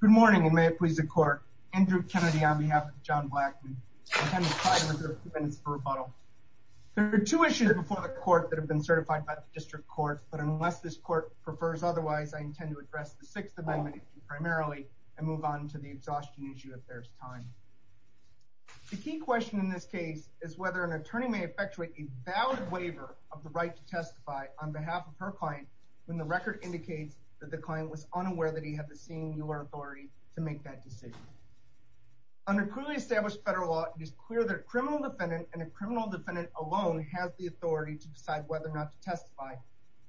Good morning, and may it please the Court, Andrew Kennedy on behalf of John Blackmon. I intend to try to reserve a few minutes for rebuttal. There are two issues before the Court that have been certified by the District Court, but unless this Court prefers otherwise, I intend to address the Sixth Amendment issue primarily and move on to the exhaustion issue if there is time. The key question in this case is whether an attorney may effectuate a valid waiver of the right to testify on behalf of her client when the record indicates that the client was unaware that he had the singular authority to make that decision. Under clearly established federal law, it is clear that a criminal defendant and a criminal defendant alone has the authority to decide whether or not to testify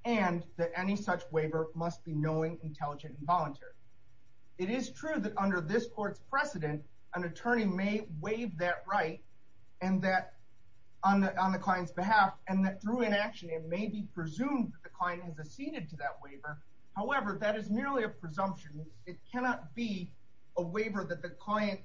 and that any such waiver must be knowing, intelligent, and voluntary. It is true that under this Court's precedent, an attorney may waive that right on the client's behalf and that through inaction, it may be presumed that the client has acceded to that waiver. However, that is merely a presumption. It cannot be a waiver that the client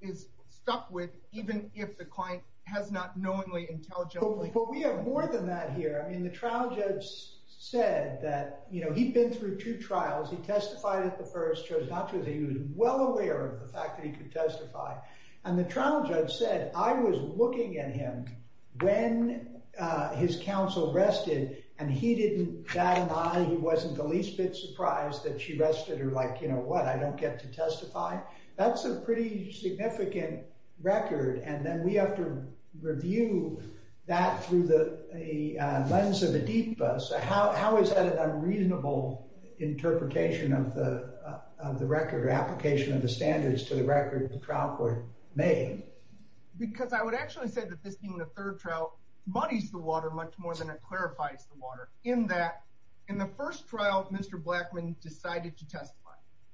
is stuck with even if the client has not knowingly, intelligently— But we have more than that here. I mean, the trial judge said that, you know, he'd been through two trials. He testified at the first. It turns out that he was well aware of the fact that he could testify. And the trial judge said, I was looking at him when his counsel rested and he didn't bat an eye. He wasn't the least bit surprised that she rested her like, you know, what? I don't get to testify? That's a pretty significant record. And then we have to review that through the lens of a deep bus. How is that an unreasonable interpretation of the record or application of the standards to the record the trial court made? Because I would actually say that this being the third trial muddies the water much more than it clarifies the water. In that, in the first trial, Mr. Blackman decided to testify.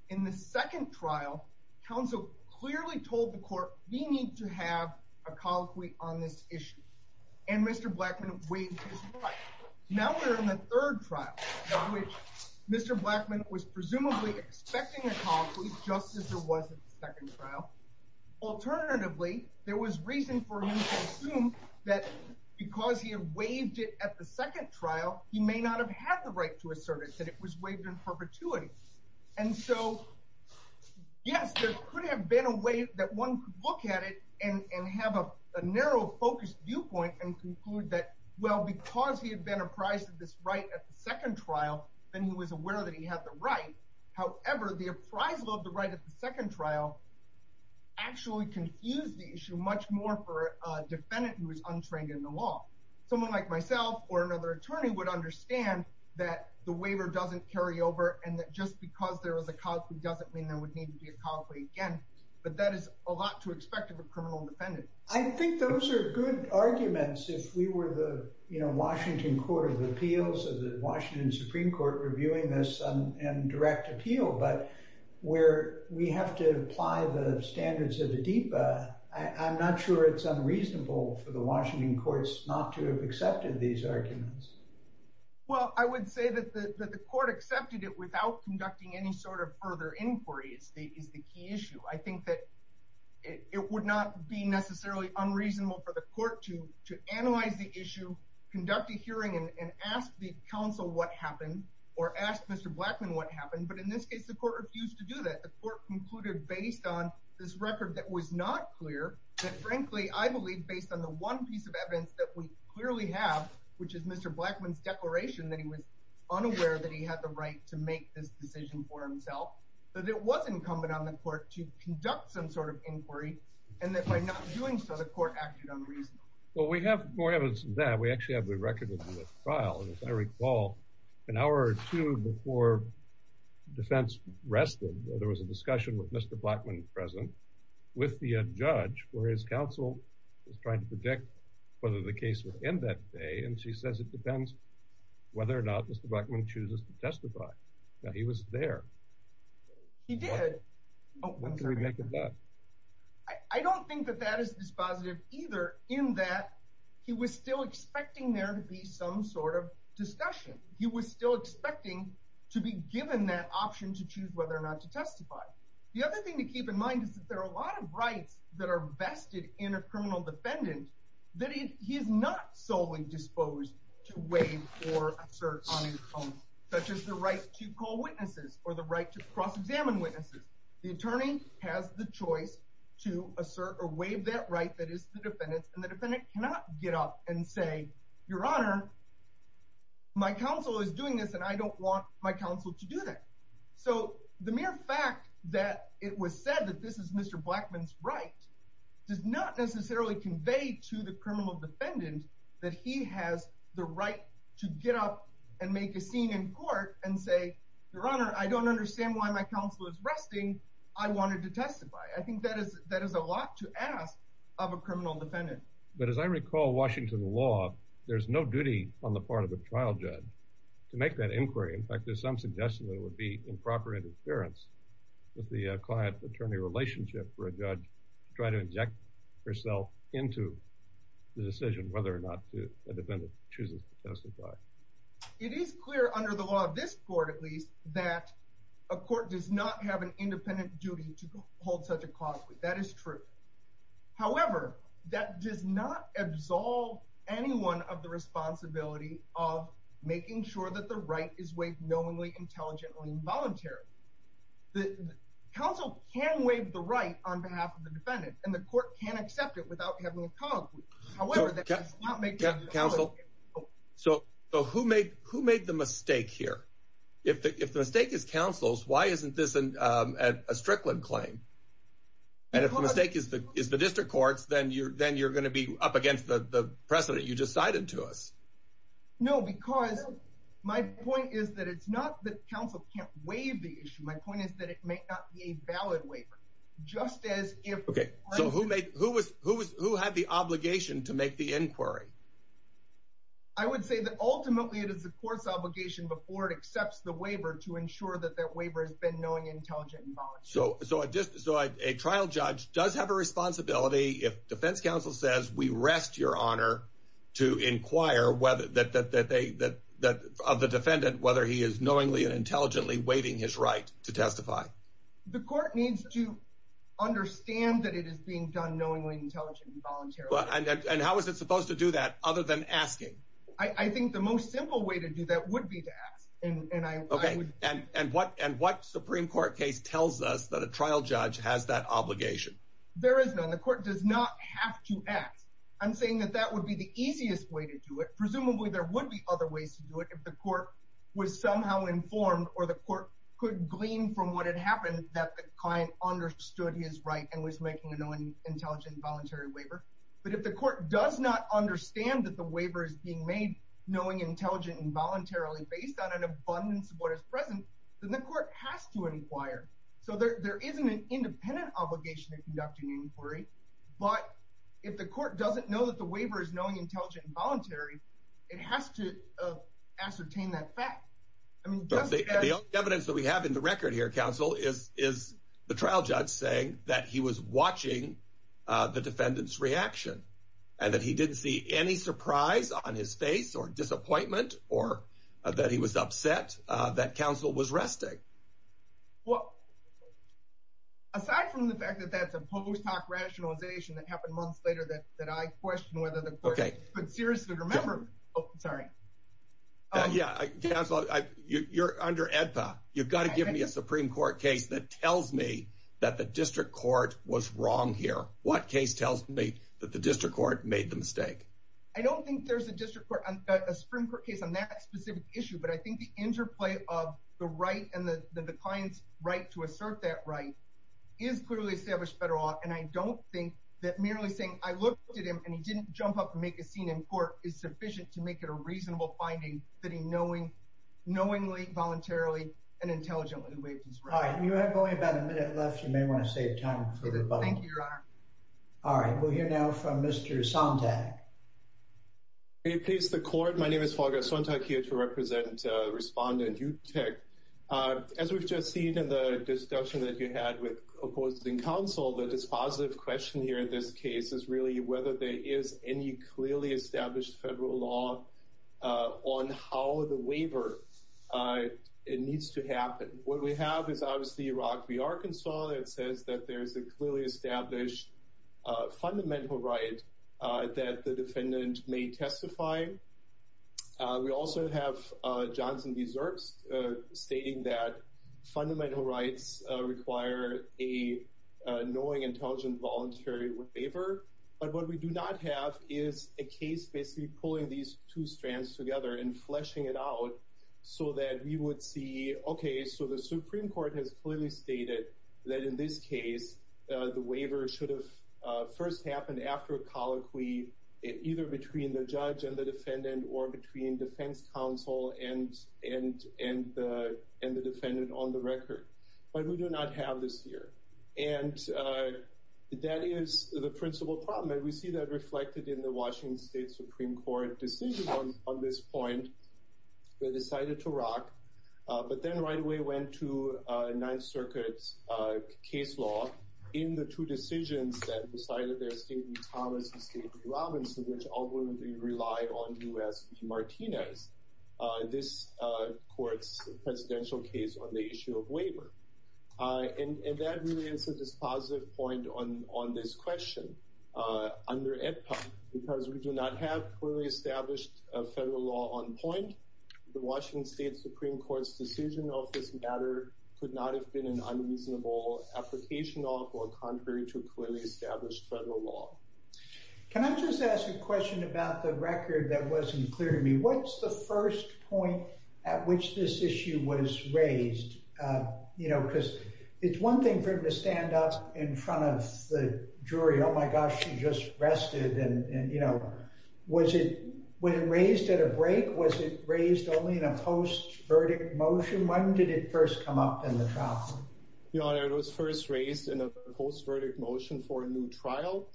In the second trial, counsel clearly told the court, we need to have a colloquy on this issue. And Mr. Blackman waived his right. Now we're in the third trial, in which Mr. Blackman was presumably expecting a colloquy, just as there was in the second trial. Alternatively, there was reason for him to assume that because he had waived it at the second trial, he may not have had the right to assert it, that it was waived in perpetuity. And so, yes, there could have been a way that one could look at it and have a narrow, focused viewpoint and conclude that, well, because he had been apprised of this right at the second trial, then he was aware that he had the right. However, the appraisal of the right at the second trial actually confused the issue much more for a defendant who was untrained in the law. Someone like myself or another attorney would understand that the waiver doesn't carry over, and that just because there was a colloquy doesn't mean there would need to be a colloquy again. But that is a lot to expect of a criminal defendant. I think those are good arguments if we were the Washington Court of Appeals or the Washington Supreme Court reviewing this in direct appeal. But where we have to apply the standards of the DEPA, I'm not sure it's unreasonable for the Washington courts not to have accepted these arguments. Well, I would say that the court accepted it without conducting any sort of further inquiry is the key issue. I think that it would not be necessarily unreasonable for the court to analyze the issue, conduct a hearing, and ask the counsel what happened or ask Mr. Blackman what happened. But in this case, the court refused to do that. The court concluded based on this record that was not clear that, frankly, I believe based on the one piece of evidence that we clearly have, which is Mr. Blackman's declaration that he was unaware that he had the right to make this decision for himself, that it was incumbent on the court to conduct some sort of inquiry, and that by not doing so, the court acted unreasonably. Well, we have more evidence than that. We actually have the record of the trial. As I recall, an hour or two before defense rested, there was a discussion with Mr. Blackman present with the judge where his counsel was trying to predict whether the case would end that day, and she says it depends whether or not Mr. Blackman chooses to testify. Now, he was there. He did. When can we make it that? I don't think that that is dispositive either in that he was still expecting there to be some sort of discussion. He was still expecting to be given that option to choose whether or not to testify. The other thing to keep in mind is that there are a lot of rights that are vested in a criminal defendant that he is not solely disposed to waive or assert on his own, such as the right to call witnesses or the right to cross-examine witnesses. The attorney has the choice to assert or waive that right that is the defendant's, and the defendant cannot get up and say, Your Honor, my counsel is doing this and I don't want my counsel to do that. So the mere fact that it was said that this is Mr. Blackman's right does not necessarily convey to the criminal defendant that he has the right to get up and make a scene in court and say, Your Honor, I don't understand why my counsel is resting. I wanted to testify. I think that is a lot to ask of a criminal defendant. But as I recall Washington law, there's no duty on the part of a trial judge to make that inquiry. In fact, there's some suggestion that it would be improper interference with the client-attorney relationship for a judge to try to inject herself into the decision whether or not a defendant chooses to testify. It is clear under the law of this court, at least, that a court does not have an independent duty to hold such a cause. That is true. However, that does not absolve anyone of the responsibility of making sure that the right is waived knowingly, intelligently, or involuntarily. The counsel can waive the right on behalf of the defendant, and the court can accept it without having a cause. However, that does not make the right. Counsel, who made the mistake here? If the mistake is counsel's, why isn't this a Strickland claim? And if the mistake is the district court's, then you're going to be up against the precedent you just cited to us. No, because my point is that it's not that counsel can't waive the issue. My point is that it may not be a valid waiver. Okay. So who had the obligation to make the inquiry? I would say that ultimately it is the court's obligation before it accepts the waiver to ensure that that waiver has been knowing, intelligent, and voluntary. So a trial judge does have a responsibility, if defense counsel says, we rest your honor to inquire of the defendant whether he is knowingly and intelligently waiving his right to testify. The court needs to understand that it is being done knowingly, intelligently, and voluntarily. And how is it supposed to do that other than asking? I think the most simple way to do that would be to ask. Okay. And what Supreme Court case tells us that a trial judge has that obligation? There is none. The court does not have to ask. I'm saying that that would be the easiest way to do it. Presumably there would be other ways to do it if the court was somehow informed or the court could glean from what had happened that the client understood his right and was making a knowingly, intelligently, and voluntarily waiver. But if the court does not understand that the waiver is being made knowingly, intelligently, and voluntarily based on an abundance of what is present, then the court has to inquire. So there isn't an independent obligation to conduct an inquiry. But if the court doesn't know that the waiver is knowingly, intelligently, and voluntarily, it has to ascertain that fact. The only evidence that we have in the record here, counsel, is the trial judge saying that he was watching the defendant's reaction and that he didn't see any surprise on his face or disappointment or that he was upset that counsel was resting. Well, aside from the fact that that's a post hoc rationalization that happened months later that I question whether the court could seriously remember... Oh, sorry. Yeah, counsel, you're under AEDPA. You've got to give me a Supreme Court case that tells me that the district court was wrong here. What case tells me that the district court made the mistake? I don't think there's a Supreme Court case on that specific issue, but I think the interplay of the right and the client's right to assert that right is clearly established federal law, and I don't think that merely saying, I looked at him and he didn't jump up and make a scene in court is sufficient to make it a reasonable finding that he knowingly, voluntarily, and intelligently waived his right. All right. You have only about a minute left. You may want to save time for the button. Thank you, Your Honor. All right. We'll hear now from Mr. Sontag. May it please the court, my name is Volga Sontag, here to represent Respondent Utech. As we've just seen in the discussion that you had with opposing counsel, the dispositive question here in this case is really whether there is any clearly established federal law on how the waiver needs to happen. What we have is obviously Iraq v. Arkansas, and it says that there's a clearly established fundamental right that the defendant may testify. We also have Johnson v. Zirks stating that fundamental rights require a knowing, intelligent, voluntary waiver. But what we do not have is a case basically pulling these two strands together and fleshing it out so that we would see, okay, so the Supreme Court has clearly stated that in this case, the waiver should have first happened after a colloquy, either between the judge and the defendant, or between defense counsel and the defendant on the record. But we do not have this here. And that is the principal problem, and we see that reflected in the Washington State Supreme Court decision on this point. They decided to rock, but then right away went to Ninth Circuit's case law in the two decisions that decided there, State v. Thomas and State v. Robinson, which ultimately relied on U.S. v. Martinez, this court's presidential case on the issue of waiver. And that really answers this positive point on this question. Under AEDPA, because we do not have clearly established federal law on point, the Washington State Supreme Court's decision of this matter could not have been an unreasonable application of or contrary to clearly established federal law. Can I just ask a question about the record that wasn't clear to me? What's the first point at which this issue was raised? Because it's one thing for him to stand up in front of the jury, oh my gosh, she just rested. Was it when it raised at a break, was it raised only in a post-verdict motion? When did it first come up in the trial? Your Honor, it was first raised in a post-verdict motion for a new trial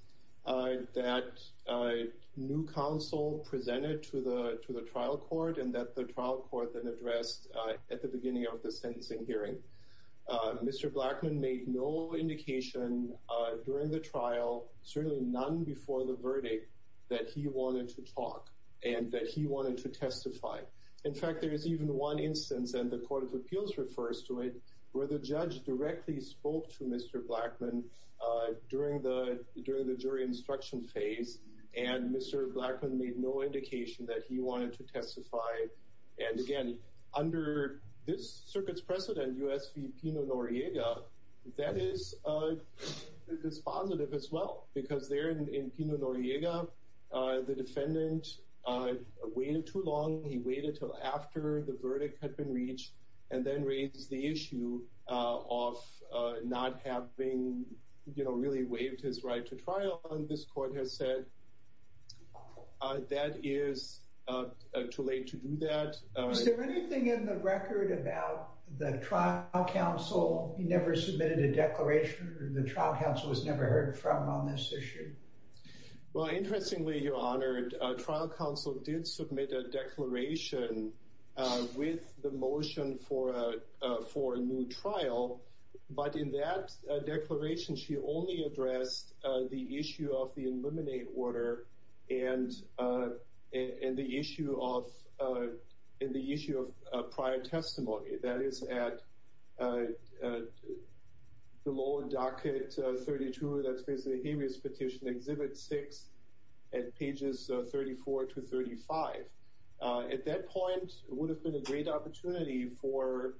that new counsel presented to the trial court, and that the trial court then addressed at the beginning of the sentencing hearing. Mr. Blackman made no indication during the trial, certainly none before the verdict, that he wanted to talk and that he wanted to testify. In fact, there is even one instance and the court of appeals refers to it where the judge directly spoke to Mr. Blackman during the jury instruction phase. And Mr. Blackman made no indication that he wanted to testify. And again, under this circuit's precedent, U.S. v. Pino Noriega, that is positive as well, because there in Pino Noriega, the defendant waited too long. He waited until after the verdict had been reached and then raised the issue of not having, you know, really waived his right to trial and this court has said that is too late to do that. Is there anything in the record about the trial counsel? He never submitted a declaration. The trial counsel was never heard from on this issue. Well, interestingly, Your Honor, trial counsel did submit a declaration with the motion for a, a new trial. But in that declaration, she only addressed the issue of the eliminate order and, and the issue of, and the issue of prior testimony that is at the lower docket 32, that's basically the habeas petition exhibit six at pages 34 to 35. At that point, it would have been a great opportunity for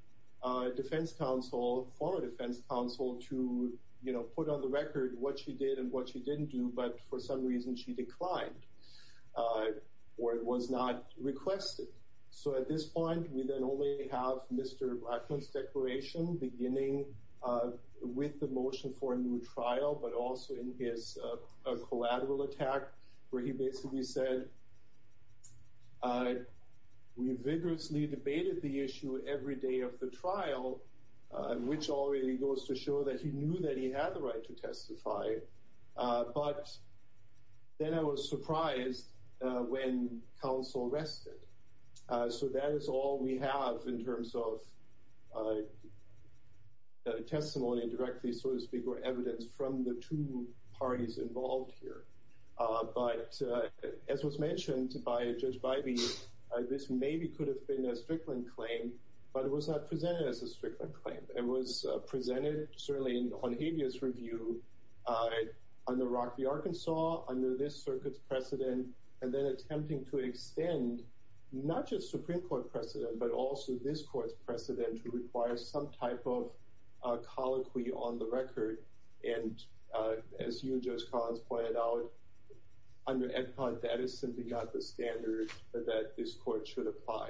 a defense counsel, former defense counsel to, you know, put on the record what she did and what she didn't do. But for some reason she declined or it was not requested. So at this point, we then only have Mr. Blackman's declaration beginning with the motion for a new trial, but also in his collateral attack where he basically said, we vigorously debated the issue every day of the trial, which already goes to show that he knew that he had the right to testify. But then I was surprised when counsel rested. So that is all we have in terms of testimony and directly, so to speak, or evidence from the two parties involved here. But as was mentioned to buy a judge by me, this maybe could have been a Strickland claim, but it was not presented as a Strickland claim. It was presented certainly on habeas review on the rocky Arkansas, under this circuit precedent, and then attempting to extend not just Supreme court precedent, but also this court's precedent to require some type of colloquy on the record. And as you just cause pointed out on your end pod, that is simply not the standard that this court should apply.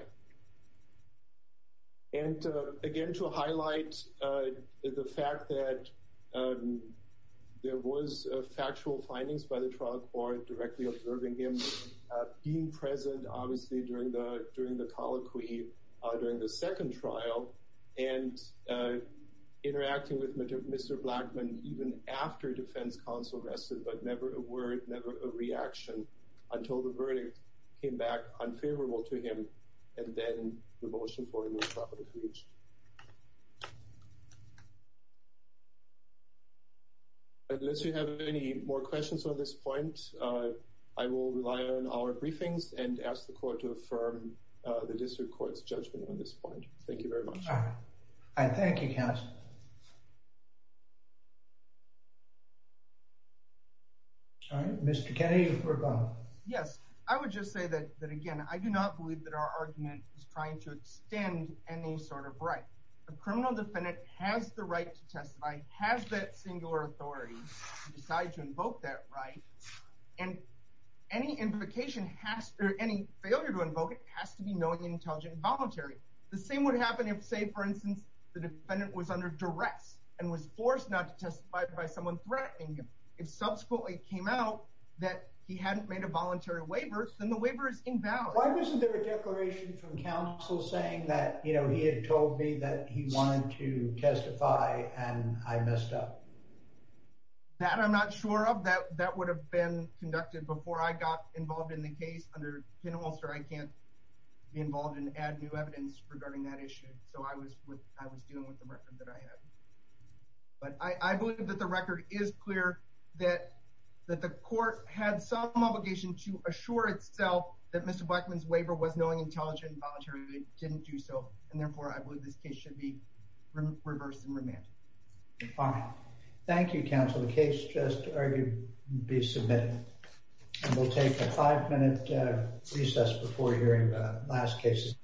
And again, to highlight the fact that there was a factual findings by the trial court directly observing him being present, obviously during the, during the colloquy, during the second trial and interacting with Mr. Blackman, even after defense counsel rested, but never a word, never a reaction until the verdict came back unfavorable to him. And then the motion for him. Unless you have any more questions on this point, I will rely on our briefings and ask the court to affirm the district court's judgment on this point. Thank you very much. All right. Thank you. All right, Mr. Yes. I would just say that, that again, I do not believe that our argument is trying to extend any sort of right. The criminal defendant has the right to testify. Has that singular authority decided to invoke that right? And any implication has any failure to invoke it has to be knowing and intelligent and voluntary. The same would happen if say for instance, the defendant was under duress and was forced not to testify by someone threatening him. If subsequently came out that he hadn't made a voluntary waiver, then the waiver is invalid. Isn't there a declaration from counsel saying that, you know, he had told me that he wanted to testify. And I messed up that I'm not sure of that. That would have been conducted before I got involved in the case under pinholster. I can't be involved in add new evidence regarding that issue. So I was with, I was dealing with the record that I had, but I believe that the record is clear that, that the court had some obligation to assure itself that Mr. Blackman's waiver was knowing, intelligent, voluntary, didn't do so. And therefore I believe this case should be reversed and remanded. Thank you counsel. The case just argued be submitted. And we'll take a five minute recess before hearing the last cases.